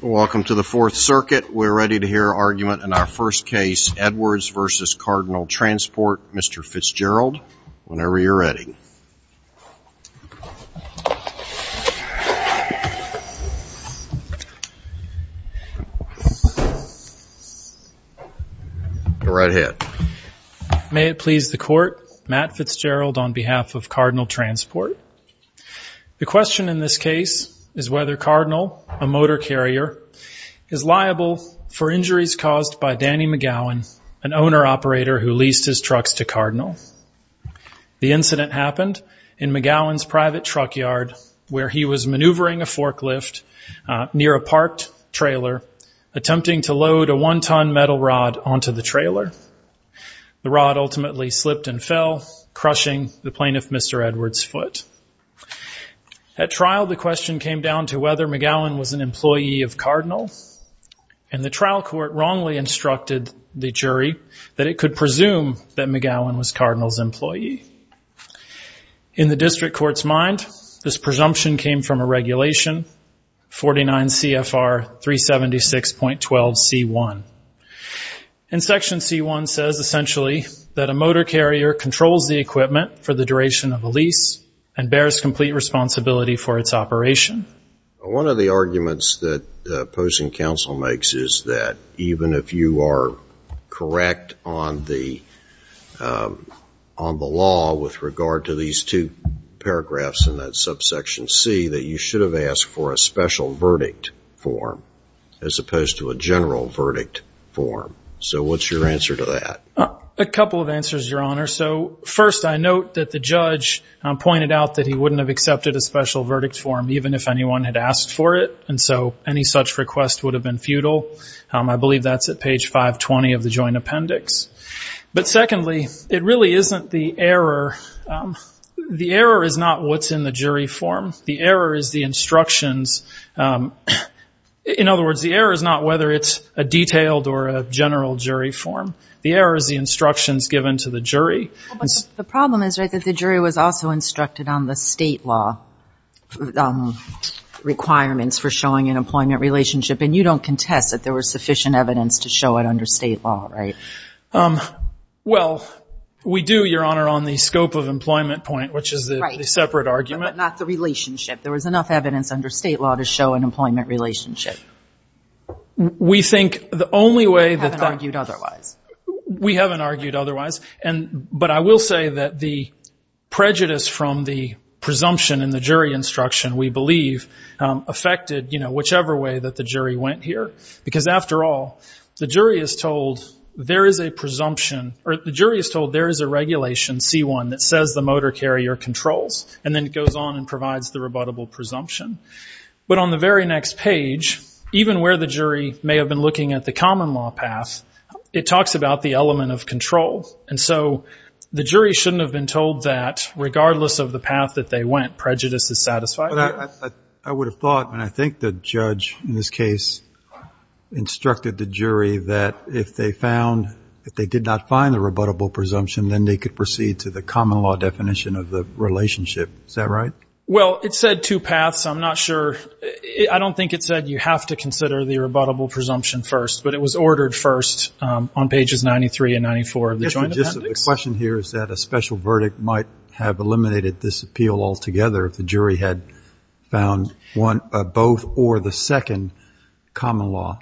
Welcome to the Fourth Circuit. We're ready to hear argument in our first case, Edwards v. Cardinal Transport. Mr. Fitzgerald, whenever you're ready. Right ahead. May it please the Court, Matt Fitzgerald on behalf of Cardinal Transport. The question in this case is whether Cardinal, a motor carrier, is liable for injuries caused by Danny McGowan, an owner-operator who leased his trucks to Cardinal. The incident happened in McGowan's private truck yard where he was maneuvering a forklift near a parked trailer, attempting to load a one-ton metal rod onto the trailer. The rod ultimately slipped and fell, crushing the plaintiff, Mr. Edwards' foot. At trial, the question came down to whether McGowan was an employee of Cardinal, and the trial court wrongly instructed the jury that it could presume that McGowan was Cardinal's employee. In the district court's mind, this presumption came from a regulation, 49 CFR 376.12C1. And Section C1 says, essentially, that a motor carrier controls the equipment for the duration of a lease and bears complete responsibility for its operation. One of the arguments that opposing counsel makes is that even if you are correct on the law with regard to these two paragraphs in that subsection C, that you should have asked for a special verdict form as opposed to a general verdict form. So what's your answer to that? A couple of answers, Your Honor. So first, I note that the judge pointed out that he wouldn't have accepted a special verdict form even if anyone had asked for it, and so any such request would have been futile. I believe that's at page 520 of the Joint Appendix. But secondly, it really isn't the error. The error is not what's in the jury form. The error is the instructions. In other words, the error is not whether it's a detailed or a general jury form. The error is the instructions given to the jury. The problem is, right, that the jury was also instructed on the state law requirements for showing an employment relationship, and you don't contest that there was sufficient evidence to show it under state law, right? Well, we do, Your Honor, on the scope of employment point, which is the separate argument. Right, but not the relationship. There was enough evidence under state law to show an employment relationship. We think the only way that that... You haven't argued otherwise. We haven't argued otherwise, but I will say that the prejudice from the presumption in the jury instruction, we believe, affected whichever way that the jury went here. Because after all, the jury is told there is a presumption, or the jury is told there is a regulation, C-1, that says the motor carrier controls, and then it goes on and provides the rebuttable presumption. But on the very next page, even where the jury may have been looking at the common law path, it talks about the element of control. And so the jury shouldn't have been told that regardless of the path that they went, prejudice is satisfied. I would have thought, and I think the judge in this case instructed the jury that if they found, if they did not find the rebuttable presumption, then they could proceed to the common law definition of the relationship. Is that right? Well, it said two paths. I'm not sure. I don't think it said you have to consider the rebuttable presumption first, but it was ordered first on pages 93 and 94 of the joint appendix. The question here is that a special verdict might have eliminated this appeal altogether if the jury had found one, both, or the second common law.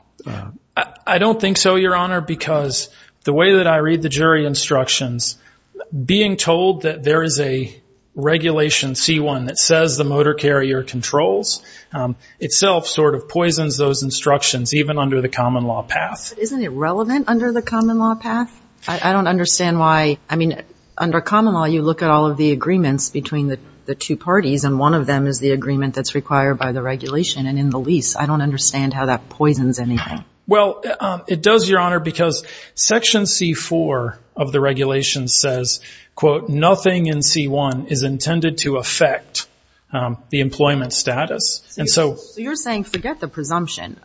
I don't think so, Your Honor, because the way that I read the jury instructions, being told that there is a regulation, C-1, that says the motor carrier controls, itself sort of poisons those instructions, even under the common law path. Isn't it relevant under the common law path? I don't understand why, I mean, under common law, you look at all of the agreements between the two parties, and one of them is the agreement that's required by the regulation, and in the lease, I don't understand how that poisons anything. Well, it does, Your Honor, because section C-4 of the regulation says, quote, nothing in C-1 is intended to affect the employment status, and so So you're saying forget the presumption.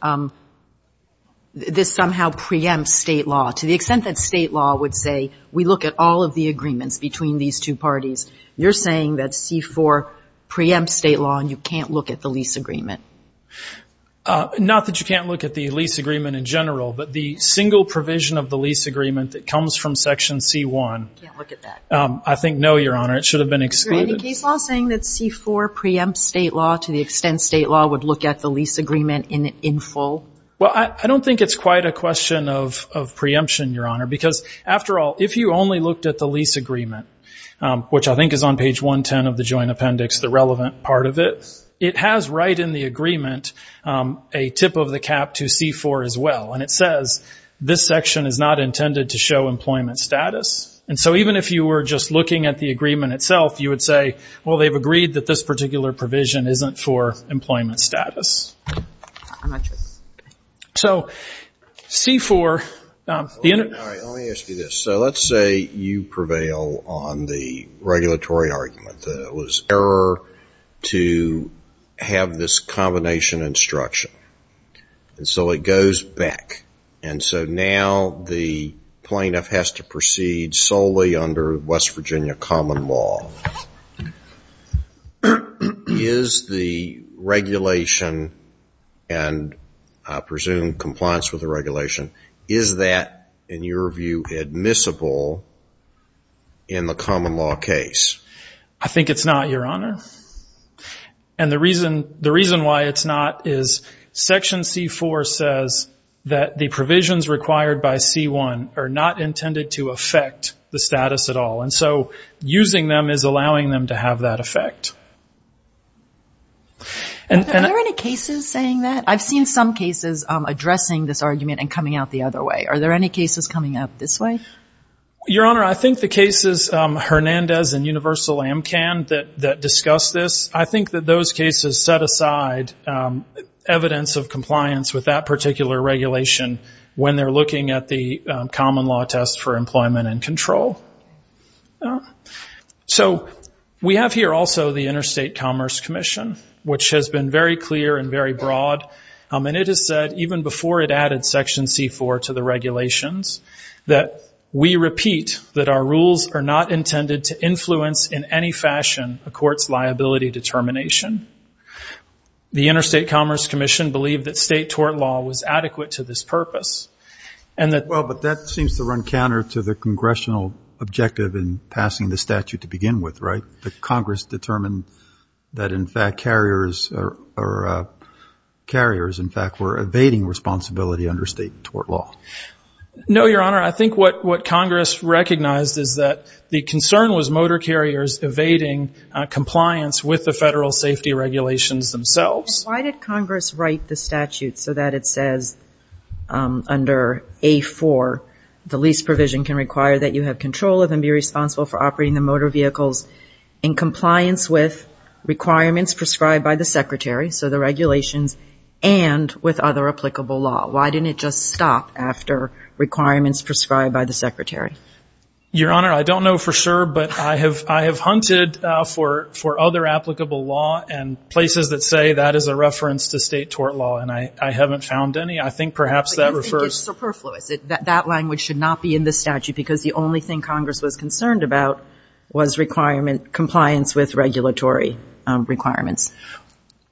This somehow preempts state law, to the extent that state law would say, we look at all of the agreements between these two parties. You're saying that C-4 preempts state law, and you can't look at the lease agreement. Not that you can't look at the lease agreement in general, but the single provision of the lease agreement that comes from section C-1 You can't look at that. I think, no, Your Honor, it should have been excluded. Is there any case law saying that C-4 preempts state law to the extent state law would look at the lease agreement in full? Well, I don't think it's quite a question of preemption, Your Honor, because after all, if you only looked at the lease agreement, which I think is on page 110 of the joint appendix, the relevant part of it, it has right in the agreement a tip of the cap to C-4 as well, and it says, this section is not intended to show employment status, and so even if you were just looking at the agreement itself, you would say, well, they've agreed that this particular provision isn't for employment status. So, C-4, the inter- All right, let me ask you this. So let's say you prevail on the regulatory argument that it was error to have this combination instruction, and so it goes back, and so now the plaintiff has to proceed solely under West Virginia common law. Is the regulation, and I presume compliance with the regulation, is that, in your view, admissible in the common law case? I think it's not, Your Honor, and the reason why it's not is section C-4 says that the provisions required by C-1 are not intended to affect the status at all, and so using them is allowing them to have that effect. Are there any cases saying that? I've seen some cases addressing this argument and coming out the other way. Are there any cases coming out this way? Your Honor, I think the cases, Hernandez and Universal AMCAN, that discuss this, I think that those cases set aside evidence of compliance with that particular regulation when they're common law tests for employment and control. So we have here also the Interstate Commerce Commission, which has been very clear and very broad, and it has said, even before it added section C-4 to the regulations, that we repeat that our rules are not intended to influence in any fashion a court's liability determination. The Interstate Commerce Commission believed that state tort law was adequate to this purpose, and that — Well, but that seems to run counter to the congressional objective in passing the statute to begin with, right? That Congress determined that, in fact, carriers are — carriers, in fact, were evading responsibility under state tort law. No, Your Honor. I think what Congress recognized is that the concern was motor carriers evading compliance with the federal safety regulations themselves. Why did Congress write the statute so that it says, under A-4, the lease provision can require that you have control of and be responsible for operating the motor vehicles in compliance with requirements prescribed by the Secretary, so the regulations, and with other applicable law? Why didn't it just stop after requirements prescribed by the Secretary? Your Honor, I don't know for sure, but I have hunted for other applicable law and places that say that is a reference to state tort law, and I haven't found any. I think perhaps that refers — But you think it's superfluous, that that language should not be in the statute, because the only thing Congress was concerned about was requirement — compliance with regulatory requirements.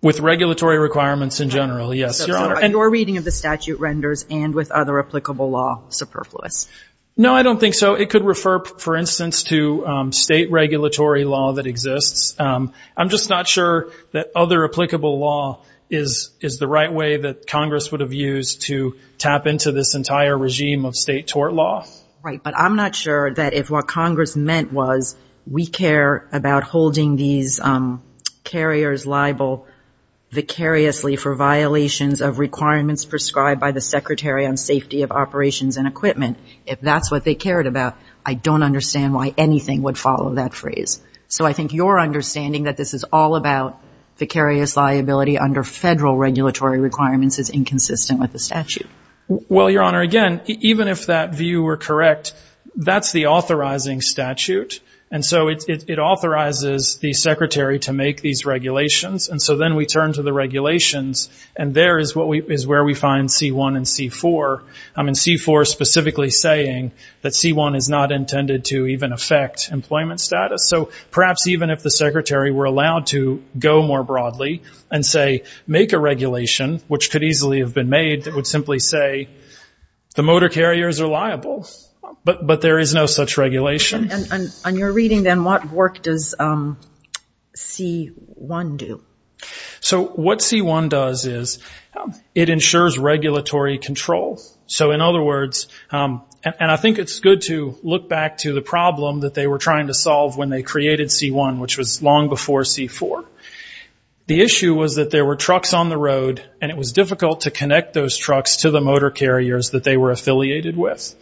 With regulatory requirements in general, yes, Your Honor. So your reading of the statute renders, and with other applicable law, superfluous. No, I don't think so. It could refer, for instance, to state regulatory law that exists. I'm just not sure that other applicable law is the right way that Congress would have used to tap into this entire regime of state tort law. Right, but I'm not sure that if what Congress meant was, we care about holding these carriers liable vicariously for violations of requirements prescribed by the Secretary on safety of operations and equipment, if that's what they cared about, I don't understand why anything would follow that phrase. So I think your understanding that this is all about vicarious liability under federal regulatory requirements is inconsistent with the statute. Well, Your Honor, again, even if that view were correct, that's the authorizing statute, and so it authorizes the Secretary to make these regulations. And so then we turn to the regulations, and there is where we find C-1 and C-4. I mean, C-4 specifically saying that C-1 is not intended to even affect employment status. So perhaps even if the Secretary were allowed to go more broadly and say, make a regulation, which could easily have been made that would simply say, the motor carriers are liable, but there is no such regulation. On your reading then, what work does C-1 do? So what C-1 does is, it ensures regulatory control. So in other words, and I think it's good to look back to the problem that they were trying to solve when they created C-1, which was long before C-4. The issue was that there were trucks on the road, and it was difficult to connect those trucks to the motor carriers that they were affiliated with.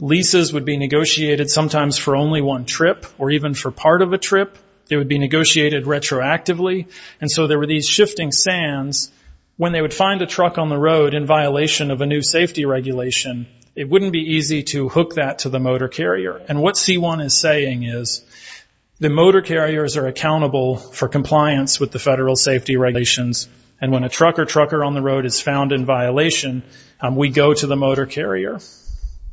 Leases would be negotiated sometimes for only one trip, or even for part of a trip. It would be negotiated retroactively. And so there were these shifting sands. When they would find a truck on the road in violation of a new safety regulation, it wouldn't be easy to hook that to the motor carrier. And what C-1 is saying is, the motor carriers are accountable for compliance with the federal safety regulations. And when a truck or trucker on the road is found in violation, we go to the motor carrier.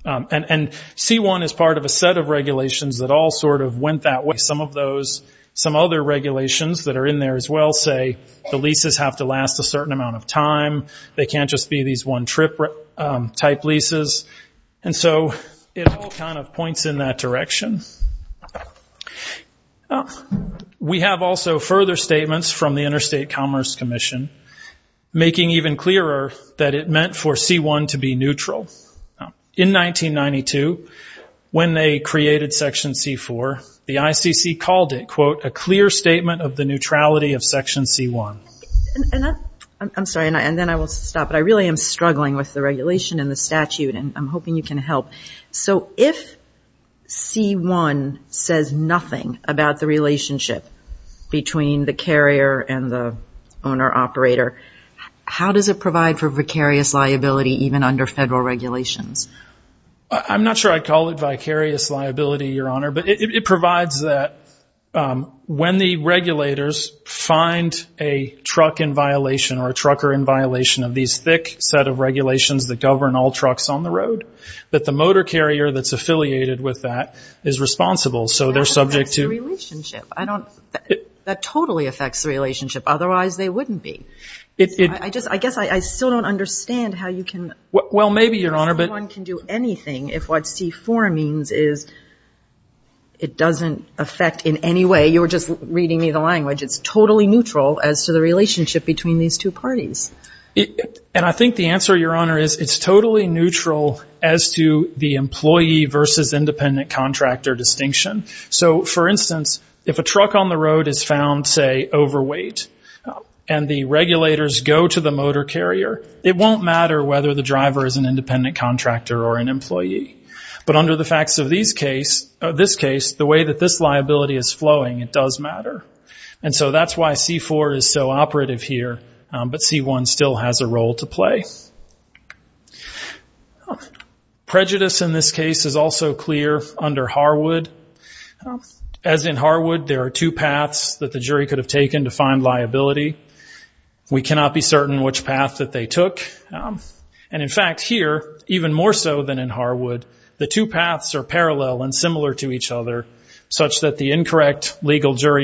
And C-1 is part of a set of regulations that all sort of went that way. Some of those, some other regulations that are in there as well say, the leases have to last a certain amount of time. They can't just be these one-trip type leases. And so it all kind of points in that direction. We have also further statements from the Interstate Commerce Commission, making even clearer that it meant for C-1 to be neutral. In 1992, when they created Section C-4, the ICC called it, quote, a clear statement of the neutrality of Section C-1. And I'm sorry, and then I will stop, but I really am struggling with the regulation and the statute, and I'm hoping you can help. So if C-1 says nothing about the relationship between the carrier and the owner-operator, how does it provide for vicarious liability even under federal regulations? I'm not sure I'd call it vicarious liability, Your Honor, but it provides that when the regulators find a truck in violation or a trucker in violation of these thick set of trucks on the road, that the motor carrier that's affiliated with that is responsible. So they're subject to- That affects the relationship. I don't- that totally affects the relationship. Otherwise they wouldn't be. It- I just- I guess I still don't understand how you can- Well, maybe, Your Honor, but- How one can do anything if what C-4 means is it doesn't affect in any way- you were just reading me the language- it's totally neutral as to the relationship between these two parties. And I think the answer, Your Honor, is it's totally neutral as to the employee versus independent contractor distinction. So for instance, if a truck on the road is found, say, overweight, and the regulators go to the motor carrier, it won't matter whether the driver is an independent contractor or an employee. But under the facts of these case- of this case, the way that this liability is flowing, it does matter. And so that's why C-4 is so operative here, but C-1 still has a role to play. Prejudice in this case is also clear under Harwood. As in Harwood, there are two paths that the jury could have taken to find liability. We cannot be certain which path that they took. And in fact, here, even more so than in Harwood, the two paths are parallel and similar to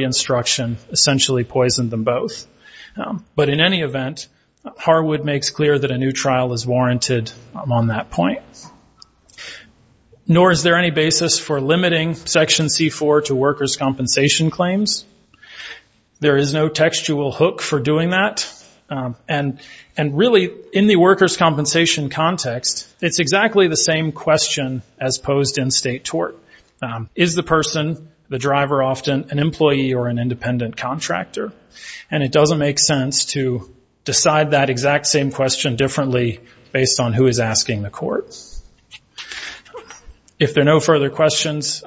construction, essentially poisoned them both. But in any event, Harwood makes clear that a new trial is warranted on that point. Nor is there any basis for limiting Section C-4 to workers' compensation claims. There is no textual hook for doing that. And really, in the workers' compensation context, it's exactly the same question as posed in state tort. Is the person, the driver often, an employee or an independent contractor? And it doesn't make sense to decide that exact same question differently based on who is asking the court. If there are no further questions,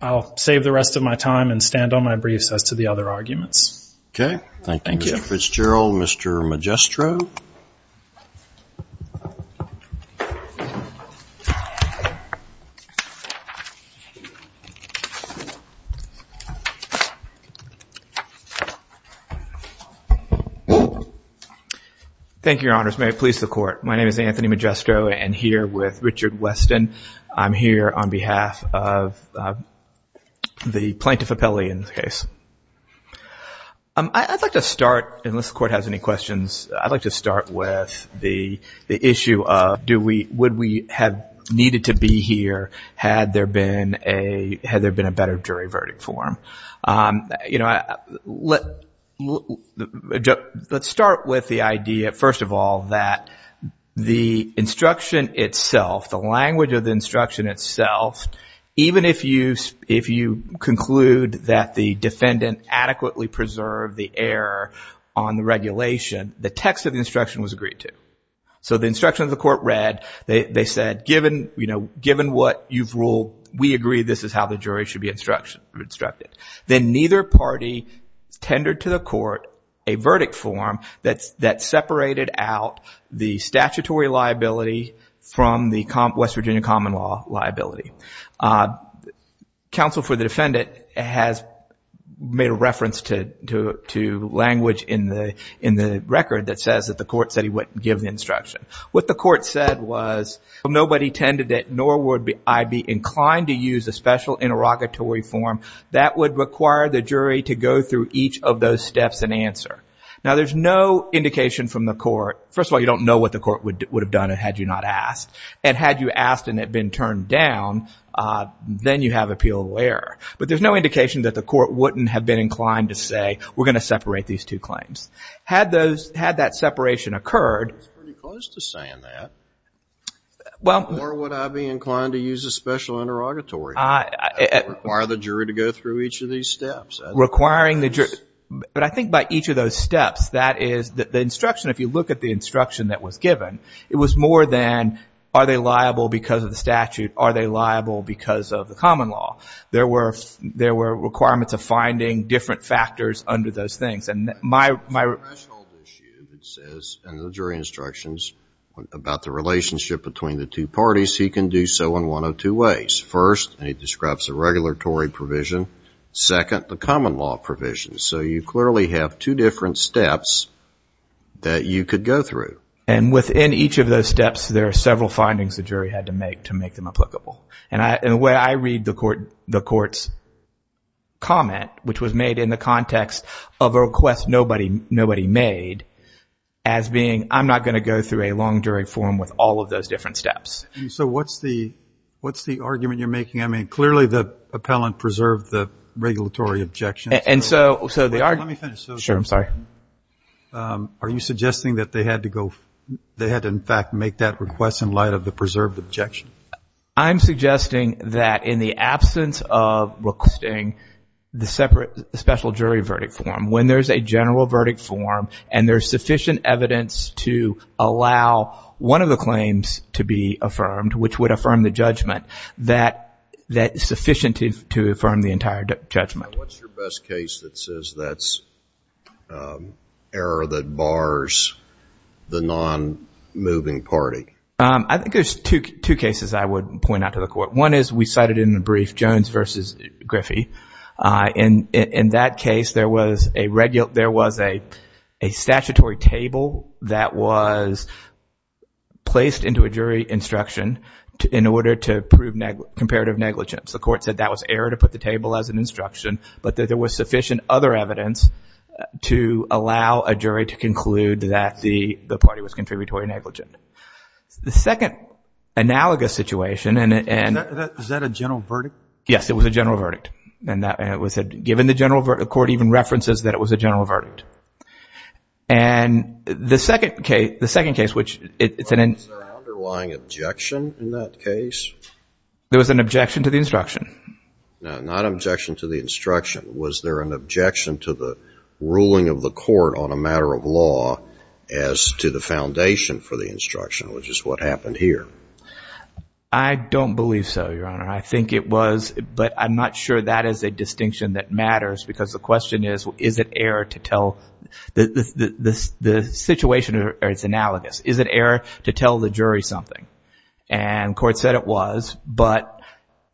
I'll save the rest of my time and stand on my briefs as to the other arguments. Okay. Thank you. Thank you, Mr. Fitzgerald. Mr. Magistro. Thank you, Your Honors. May it please the Court. My name is Anthony Magistro. I'm here with Richard Weston. I'm here on behalf of the plaintiff appellee in this case. I'd like to start, unless the Court has any questions, I'd like to start with the issue of would we have needed to be here had there been a better jury verdict form. Let's start with the idea, first of all, that the instruction itself, the language of the defendant adequately preserved the error on the regulation. The text of the instruction was agreed to. So the instruction of the court read, they said, given what you've ruled, we agree this is how the jury should be instructed. Then neither party tendered to the court a verdict form that separated out the statutory liability from the West Virginia common law liability. Counsel for the defendant has made a reference to language in the record that says that the court said he wouldn't give the instruction. What the court said was nobody tended it, nor would I be inclined to use a special interrogatory form that would require the jury to go through each of those steps and answer. Now there's no indication from the court, first of all, you don't know what the court would have done had you not asked. And had you asked and it had been turned down, then you have appeal of error. But there's no indication that the court wouldn't have been inclined to say we're going to separate these two claims. Had that separation occurred, or would I be inclined to use a special interrogatory, require the jury to go through each of these steps? But I think by each of those steps, that is, the instruction, if you look at the instruction that was given, it was more than are they liable because of the statute? Are they liable because of the common law? There were requirements of finding different factors under those things. And my... There's a threshold issue that says in the jury instructions about the relationship between the two parties. He can do so in one of two ways. First, and he describes a regulatory provision, second, the common law provision. So you clearly have two different steps that you could go through. And within each of those steps, there are several findings the jury had to make to make them applicable. And the way I read the court's comment, which was made in the context of a request nobody made, as being I'm not going to go through a long jury forum with all of those different steps. So what's the argument you're making? I mean, clearly the appellant preserved the regulatory objections. And so... Let me finish. Sure. I'm sorry. Are you suggesting that they had to go, they had to in fact make that request in light of the preserved objection? I'm suggesting that in the absence of requesting the separate special jury verdict form, when there's a general verdict form and there's sufficient evidence to allow one of the claims to be affirmed, which would affirm the judgment, that is sufficient to affirm the entire judgment. What's your best case that says that's error that bars the non-moving party? I think there's two cases I would point out to the court. One is we cited in the brief Jones versus Griffey. In that case, there was a statutory table that was placed into a jury instruction in order to prove comparative negligence. The court said that was error to put the table as an instruction, but that there was sufficient other evidence to allow a jury to conclude that the party was contributory negligent. The second analogous situation and... Is that a general verdict? Yes, it was a general verdict. And given the general verdict, the court even references that it was a general verdict. And the second case, which it's an... Was there an underlying objection in that case? There was an objection to the instruction. Not objection to the instruction. Was there an objection to the ruling of the court on a matter of law as to the foundation for the instruction, which is what happened here? I don't believe so, Your Honor. I think it was, but I'm not sure that is a distinction that matters because the question is, is it error to tell... The situation is analogous. Is it error to tell the jury something? And the court said it was, but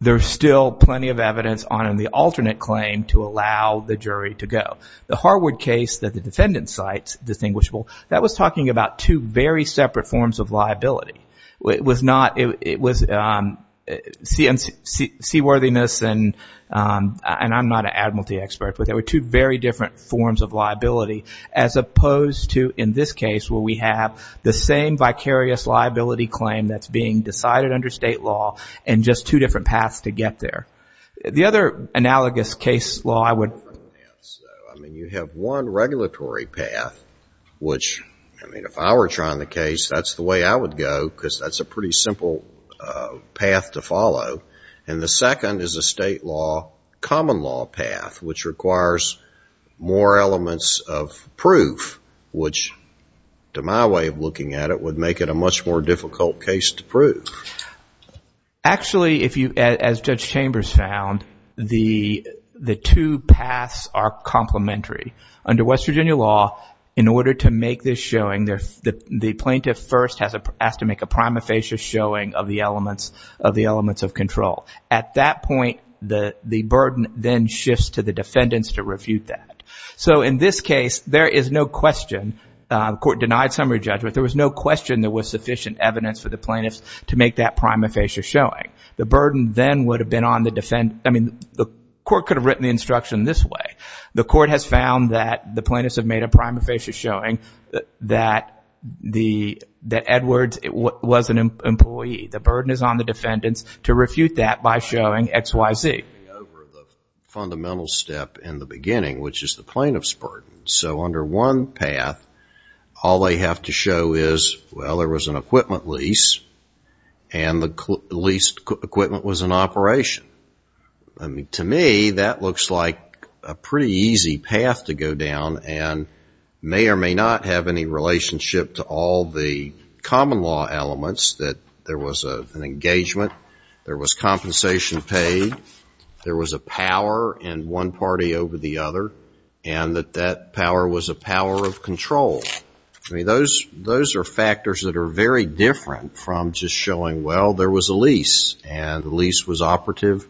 there's still plenty of evidence on the alternate claim to allow the jury to go. The Harwood case that the defendant cites, distinguishable, that was talking about two very separate forms of liability. It was not... It was seaworthiness and I'm not an admiralty expert, but there were two very different forms of liability as opposed to, in this case, where we have the same vicarious liability claim that's being decided under state law and just two different paths to get there. The other analogous case law I would... I mean, you have one regulatory path, which, I mean, if I were trying the case, that's the way I would go because that's a pretty simple path to follow. And the second is a state law common law path, which requires more elements of proof, which to my way of looking at it would make it a much more difficult case to prove. Actually if you, as Judge Chambers found, the two paths are complementary. Under West Virginia law, in order to make this showing, the plaintiff first has to make a prima facie showing of the elements of control. At that point, the burden then shifts to the defendants to refute that. So in this case, there is no question, the court denied summary judgment, there was no question there was sufficient evidence for the plaintiffs to make that prima facie showing. The burden then would have been on the defendants, I mean, the court could have written the instruction this way. The court has found that the plaintiffs have made a prima facie showing that Edwards was an employee. The burden is on the defendants to refute that by showing X, Y, Z. ...over the fundamental step in the beginning, which is the plaintiff's burden. So under one path, all they have to show is, well, there was an equipment lease and the leased equipment was in operation. To me, that looks like a pretty easy path to go down and may or may not have any relationship to all the common law elements that there was an engagement, there was compensation paid, there was a power in one party over the other, and that that power was a power of control. Those are factors that are very different from just showing, well, there was a lease and the lease was operative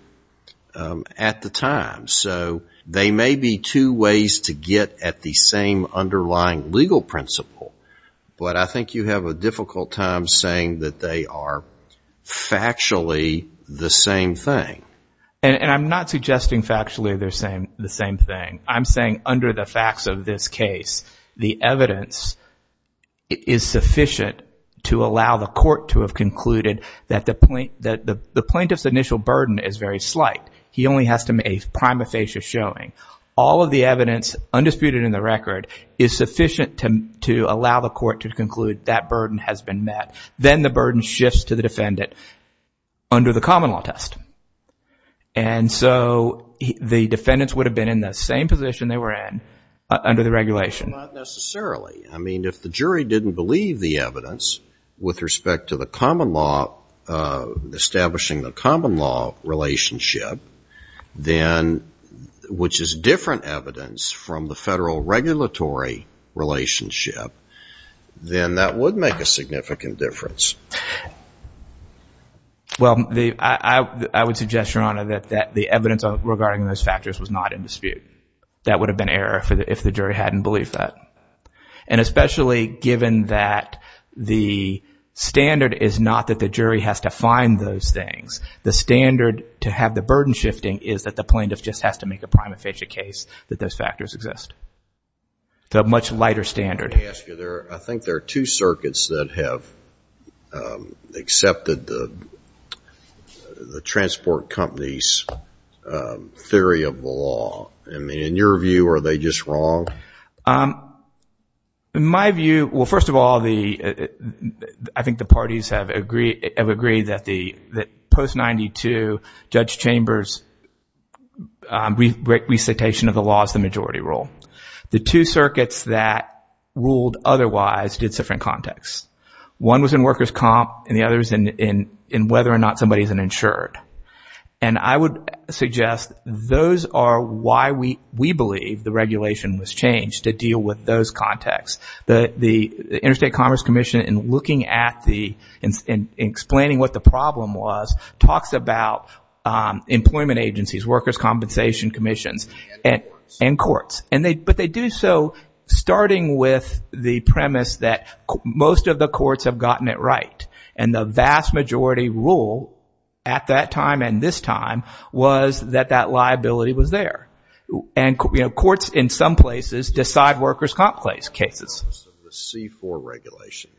at the time. So they may be two ways to get at the same underlying legal principle, but I think you have a difficult time saying that they are factually the same thing. And I'm not suggesting factually they're the same thing. I'm saying under the facts of this case, the evidence is sufficient to allow the court to have concluded that the plaintiff's initial burden is very slight. He only has to make a prima facie showing. All of the evidence undisputed in the record is sufficient to allow the court to conclude that burden has been met. Then the burden shifts to the defendant under the common law test. And so the defendants would have been in the same position they were in under the regulation. Not necessarily. I mean, if the jury didn't believe the evidence with respect to the common law, establishing the common law relationship, then, which is different evidence from the federal regulatory relationship, then that would make a significant difference. Well, I would suggest, Your Honor, that the evidence regarding those factors was not in dispute. That would have been error if the jury hadn't believed that. And especially given that the standard is not that the jury has to find those things. The standard to have the burden shifting is that the plaintiff just has to make a prima facie case that those factors exist. The much lighter standard. Let me ask you. I think there are two circuits that have accepted the transport company's theory of the law. In your view, are they just wrong? My view, well, first of all, I think the parties have agreed that post-92, Judge Chambers recitation of the law is the majority rule. The two circuits that ruled otherwise did so from context. One was in workers' comp and the other was in whether or not somebody is insured. And I would suggest those are why we believe the regulation was changed to deal with those contexts. The Interstate Commerce Commission, in looking at the, in explaining what the problem was, talks about employment agencies, workers' compensation commissions, and courts. But they do so starting with the premise that most of the courts have gotten it right. And the vast majority rule at that time and this time was that that liability was there. And courts, in some places, decide workers' comp cases. The C-4 regulation.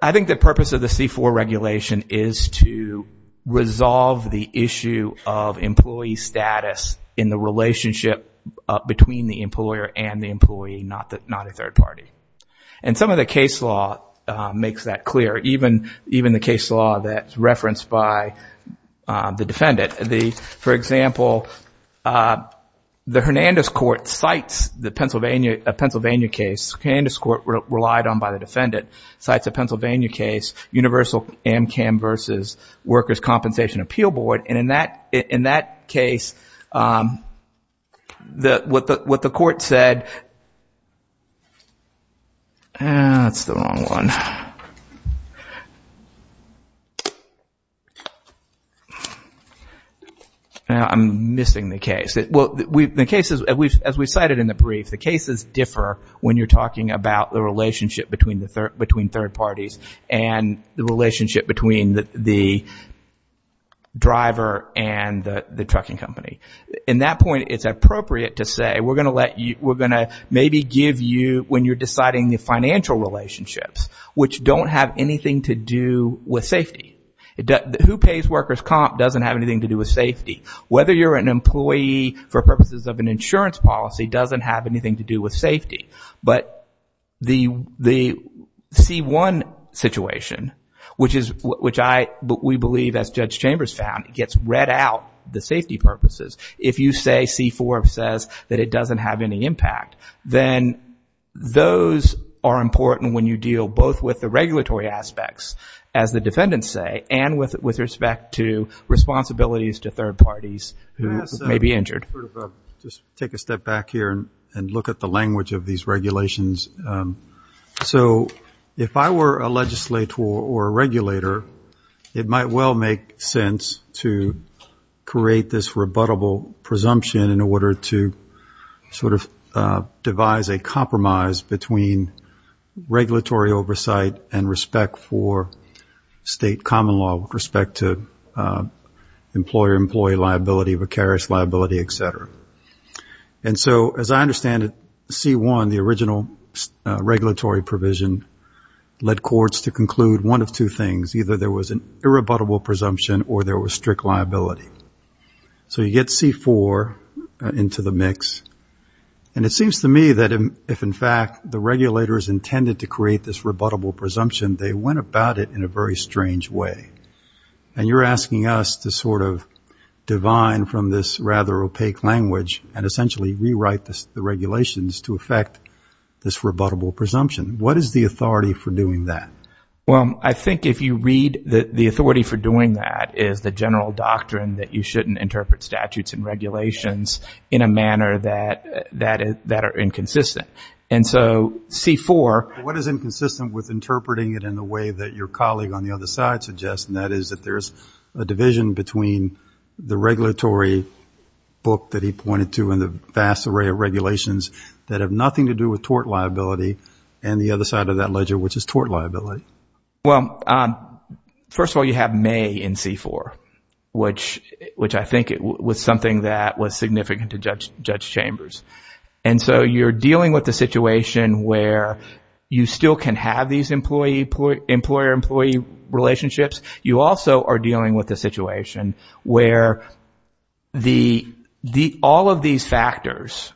I think the purpose of the C-4 regulation is to resolve the issue of employee status in the relationship between the employer and the employee, not a third party. And some of the case law makes that clear. Even the case law that's referenced by the defendant. For example, the Hernandez Court cites the Pennsylvania case, the Hernandez Court relied on by the defendant, cites a Pennsylvania case, Universal AMCAM versus Workers' Compensation Appeal Board. And in that case, what the court said, that's the wrong one. I'm missing the case. Well, the cases, as we cited in the brief, the cases differ when you're talking about the relationship between third parties and the relationship between the driver and the trucking company. In that point, it's appropriate to say, we're going to maybe give you, when you're deciding the financial relationships, which don't have anything to do with safety. Who pays workers' comp doesn't have anything to do with safety. Whether you're an employee for purposes of an insurance policy doesn't have anything to do with safety. But the C-1 situation, which we believe, as Judge Chambers found, it gets read out, the safety purposes. If you say, C-4 says, that it doesn't have any impact, then those are important when you deal both with the regulatory aspects, as the defendants say, and with respect to responsibilities to third parties who may be injured. Just take a step back here and look at the language of these regulations. So if I were a legislator or a regulator, it might well make sense to create this rebuttable presumption in order to sort of devise a compromise between regulatory oversight and respect for state common law with respect to employer-employee liability, vicarious liability, et cetera. And so, as I understand it, C-1, the original regulatory provision, led courts to conclude one of two things. Either there was an irrebuttable presumption, or there was strict liability. So you get C-4 into the mix, and it seems to me that if, in fact, the regulators intended to create this rebuttable presumption, they went about it in a very strange way. And you're asking us to sort of divine from this rather opaque language and essentially rewrite the regulations to affect this rebuttable presumption. What is the authority for doing that? Well, I think if you read that the authority for doing that is the general doctrine that you shouldn't interpret statutes and regulations in a manner that are inconsistent. And so, C-4... What is inconsistent with interpreting it in a way that your colleague on the other side suggests, and that is that there's a division between the regulatory book that he pointed to and the vast array of regulations that have nothing to do with tort liability and the other side of that ledger, which is tort liability. Well, first of all, you have May in C-4, which I think was something that was significant to Judge Chambers. And so, you're dealing with a situation where you still can have these employer-employee relationships. You also are dealing with a situation where all of these factors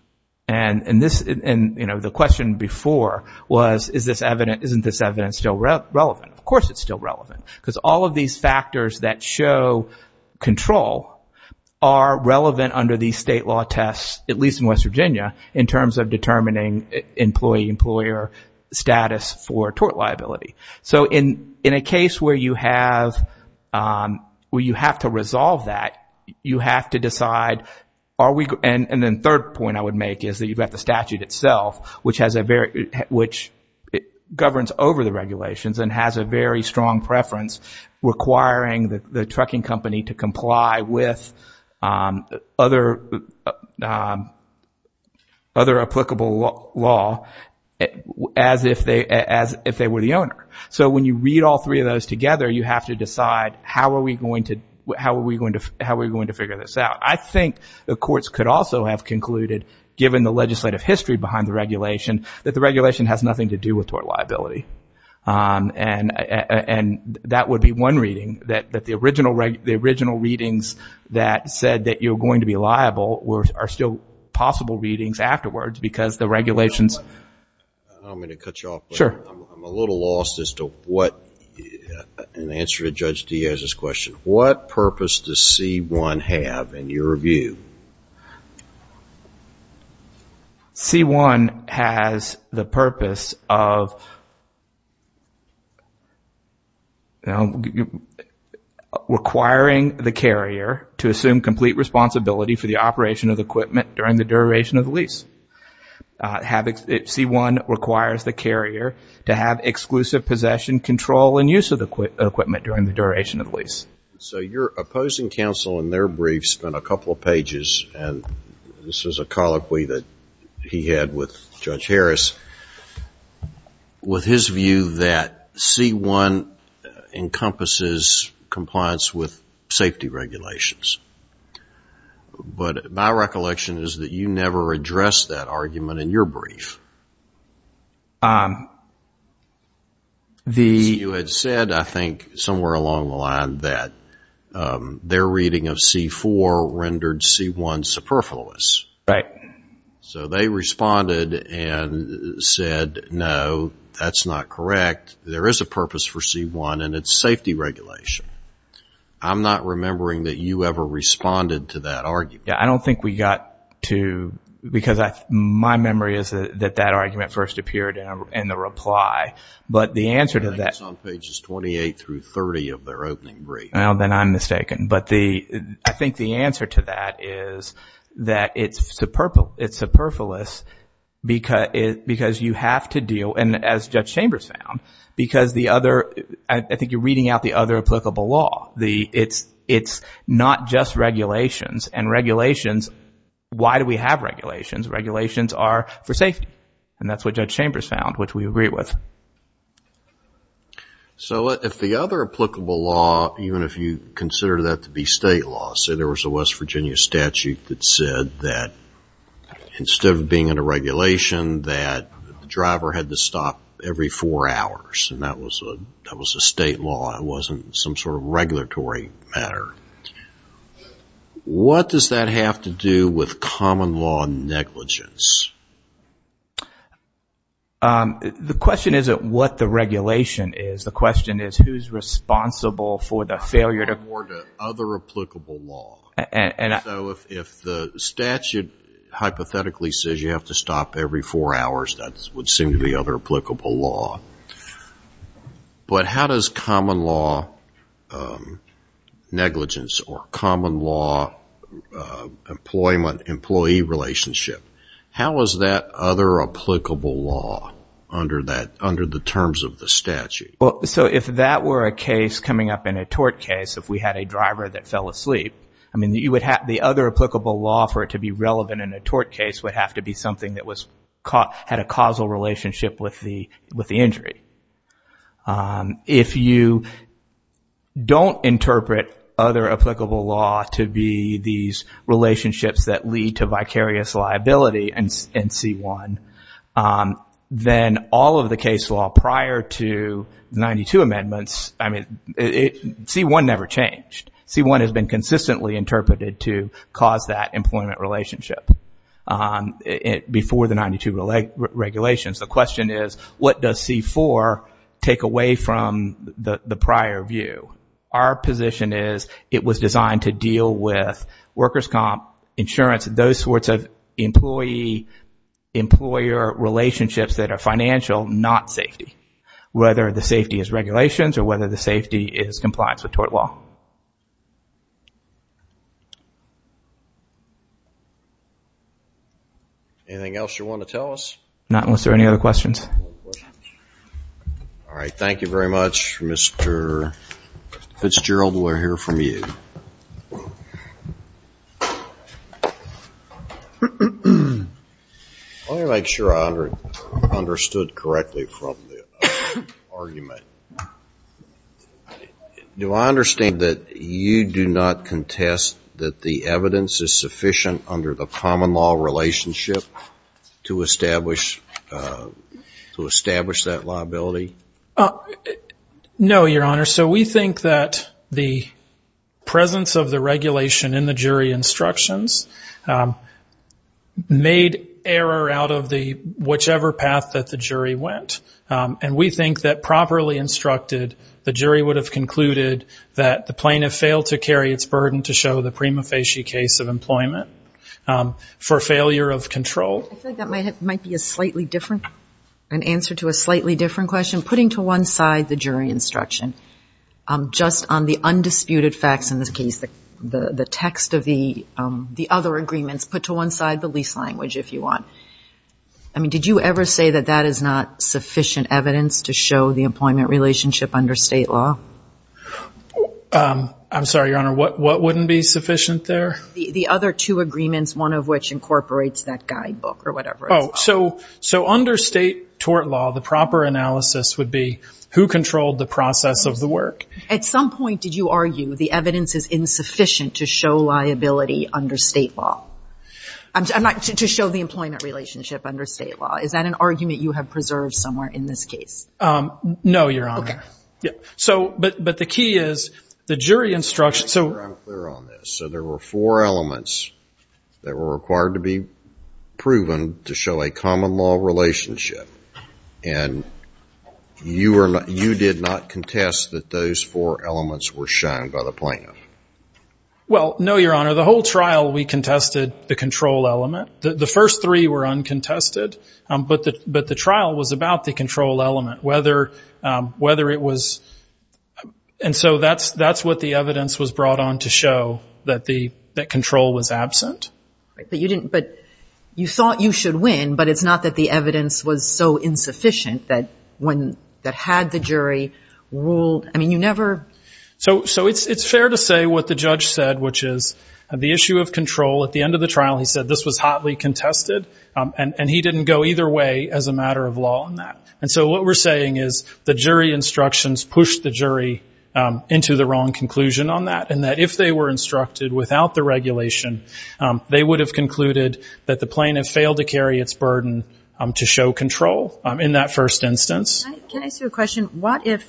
and the question before was, isn't this evidence still relevant? Of course, it's still relevant because all of these factors that show control are relevant under these state law tests, at least in West Virginia, in terms of determining employee-employer status for tort liability. So, in a case where you have to resolve that, you have to decide, are we... And then third point I would make is that you've got the statute itself, which governs over the regulations and has a very strong preference requiring the trucking company to comply with other applicable law as if they were the owner. So, when you read all three of those together, you have to decide, how are we going to figure this out? I think the courts could also have concluded, given the legislative history behind the regulation, that the regulation has nothing to do with tort liability. And that would be one reading, that the original readings that said that you're going to be liable are still possible readings afterwards because the regulations... I'm going to cut you off. Sure. I'm a little lost as to what... In answer to Judge Diaz's question, what purpose does C-1 have in your view? C-1 has the purpose of requiring the carrier to assume complete responsibility for the operation of the equipment during the duration of the lease. C-1 requires the carrier to have exclusive possession, control, and use of the equipment during the duration of the lease. So, your opposing counsel in their brief spent a couple of pages, and this is a colloquy that he had with Judge Harris, with his view that C-1 encompasses compliance with safety regulations. But my recollection is that you never addressed that argument in your brief. You had said, I think, somewhere along the line that their reading of C-4 rendered C-1 superfluous. Right. So, they responded and said, no, that's not correct. There is a purpose for C-1, and it's safety regulation. I'm not remembering that you ever responded to that argument. Yeah, I don't think we got to, because my memory is that that argument first appeared in the reply. But the answer to that- I think it's on pages 28 through 30 of their opening brief. Well, then I'm mistaken. But I think the answer to that is that it's superfluous because you have to deal, and as Judge Chambers found, because the other, I think you're reading out the other applicable law. It's not just regulations, and regulations, why do we have regulations? Regulations are for safety, and that's what Judge Chambers found, which we agree with. So if the other applicable law, even if you consider that to be state law, say there was a West Virginia statute that said that instead of being in a regulation, that the driver had to stop every four hours, and that was a state law. It wasn't some sort of regulatory matter. What does that have to do with common law negligence? The question isn't what the regulation is. The question is who's responsible for the failure to- Or the other applicable law. If the statute hypothetically says you have to stop every four hours, that would seem to be other applicable law. But how does common law negligence or common law employment, employee relationship, how is that other applicable law under the terms of the statute? So if that were a case coming up in a tort case, if we had a driver that fell asleep, the other applicable law for it to be relevant in a tort case would have to be something that had a causal relationship with the injury. If you don't interpret other applicable law to be these relationships that lead to vicarious liability in C-1, then all of the case law prior to 92 amendments, I mean, C-1 never changed. C-1 has been consistently interpreted to cause that employment relationship before the 92 regulations. The question is what does C-4 take away from the prior view? Our position is it was designed to deal with workers' comp, insurance, those sorts of employee- employer relationships that are financial, not safety, whether the safety is regulations or whether the safety is compliance with tort law. Anything else you want to tell us? Not unless there are any other questions. All right. Thank you very much, Mr. Fitzgerald. We'll hear from you. Let me make sure I understood correctly from the argument. Do I understand that you do not contest that the evidence is sufficient under the common law relationship to establish that liability? No, Your Honor. We think that the presence of the regulation in the jury instructions made error out of whichever path that the jury went. And we think that properly instructed, the jury would have concluded that the plaintiff failed to carry its burden to show the prima facie case of employment for failure of control. I feel like that might be a slightly different- an answer to a slightly different question. Putting to one side the jury instruction, just on the undisputed facts in this case, the text of the other agreements, put to one side the lease language, if you want. I mean, did you ever say that that is not sufficient evidence to show the employment relationship under state law? I'm sorry, Your Honor. What wouldn't be sufficient there? The other two agreements, one of which incorporates that guidebook or whatever. Oh, so under state tort law, the proper analysis would be who controlled the process of the work? At some point, did you argue the evidence is insufficient to show liability under state law? To show the employment relationship under state law. Is that an argument you have preserved somewhere in this case? No, Your Honor. But the key is, the jury instruction- Let me be clear on this. So there were four elements that were required to be proven to show a common law relationship. And you did not contest that those four elements were shown by the plaintiff? Well, no, Your Honor. The whole trial, we contested the control element. The first three were uncontested, but the trial was about the control element. And so that's what the evidence was brought on to show, that control was absent. But you thought you should win, but it's not that the evidence was so insufficient that had the jury ruled- I mean, you never- So it's fair to say what the judge said, which is the issue of control. At the end of the trial, he said this was hotly contested, and he didn't go either way as a matter of law on that. And so what we're saying is the jury instructions pushed the jury into the wrong conclusion on that, and that if they were instructed without the regulation, they would have concluded that the plaintiff failed to carry its burden to show control in that first instance. Can I ask you a question? What if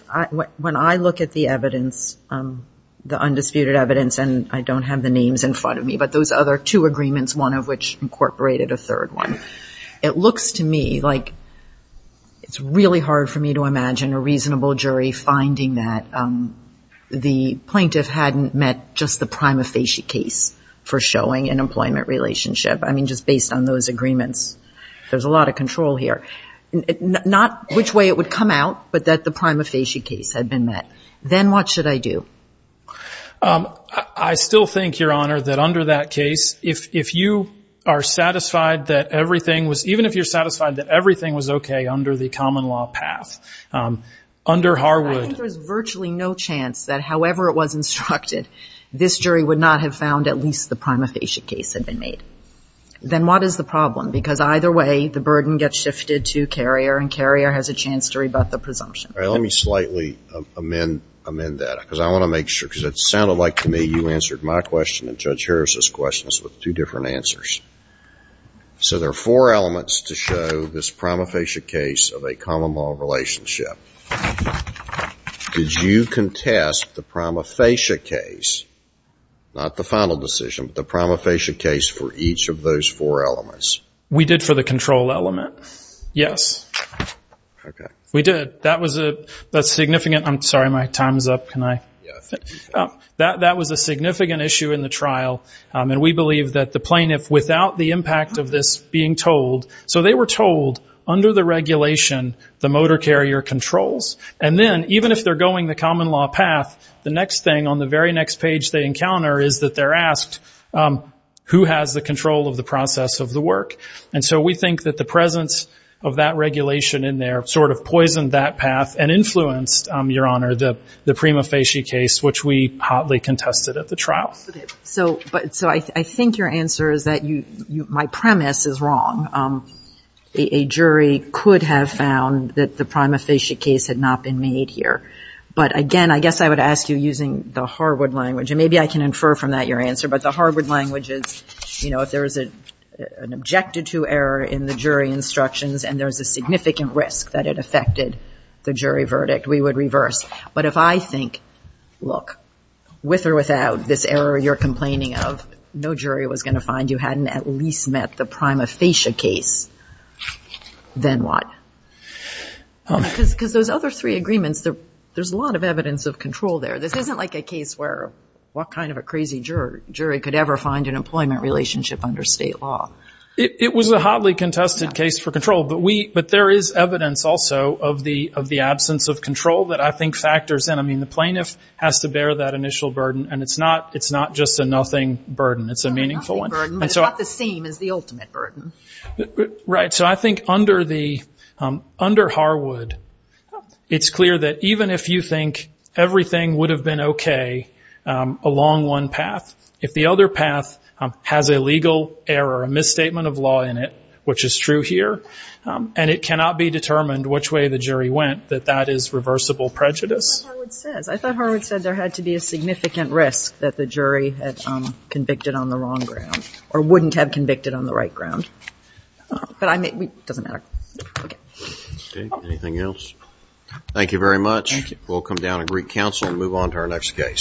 when I look at the evidence, the undisputed evidence, and I don't have the names in front of me, but those other two agreements, one of which incorporated a third one, it looks to me like it's really hard for me to imagine a reasonable jury finding that the plaintiff hadn't met just the prima facie case for showing an employment relationship. I mean, just based on those agreements, there's a lot of control here. Not which way it would come out, but that the prima facie case had been met. Then what should I do? I still think, Your Honor, that under that case, if you are satisfied that everything was, even if you're satisfied that everything was okay under the common law path, under Harwood... I think there's virtually no chance that however it was instructed, this jury would not have found at least the prima facie case had been made. Then what is the problem? Because either way, the burden gets shifted to Carrier, and Carrier has a chance to rebut the presumption. Let me slightly amend that, because I want to make sure, because it sounded like to me you answered my question and Judge Harris's questions with two different answers. So there are four elements to show this prima facie case of a common law relationship. Did you contest the prima facie case, not the final decision, but the prima facie case for each of those four elements? We did for the control element, yes. We did. That was a significant... I'm sorry, my time is up. That was a significant issue in the trial, and we believe that the plaintiff, without the impact of this being told... So they were told, under the regulation, the motor carrier controls, and then even if they're going the common law path, the next thing on the very next page they encounter is that they're asked, who has the control of the process of the work? And so we think that the presence of that regulation in there sort of poisoned that path and influenced, Your Honor, the prima facie case, which we hotly contested at the trial. So I think your answer is that my premise is wrong. A jury could have found that the prima facie case had not been made here. But again, I guess I would ask you using the Harwood language, and maybe I can infer from that your answer, but the Harwood language is, you know, if there is an objected-to error in the jury instructions and there's a significant risk that it affected the jury verdict, we would reverse. But if I think, look, with or without this error you're complaining of, no jury was going to find you hadn't at least met the prima facie case, then what? Because those other three agreements, there's a lot of evidence of control there. This isn't like a case where what kind of a crazy jury could ever find an employment relationship under state law. It was a hotly contested case for control, but there is evidence also of the absence of control that I think factors in. I mean, the plaintiff has to bear that initial burden, and it's not just a nothing burden. It's a meaningful one. But it's not the same as the ultimate burden. Right. So I think under Harwood, it's clear that even if you think everything would have been okay along one path, if the other path has a legal error, a misstatement of law in it, which is true here, and it cannot be determined which way the jury went, that that is reversible prejudice. I thought Harwood said there had to be a significant risk that the jury had convicted on the wrong ground or wouldn't have convicted on the right ground. But I mean, it doesn't matter. Okay. Anything else? Thank you very much. We'll come down to Greek Council and move on to our next case.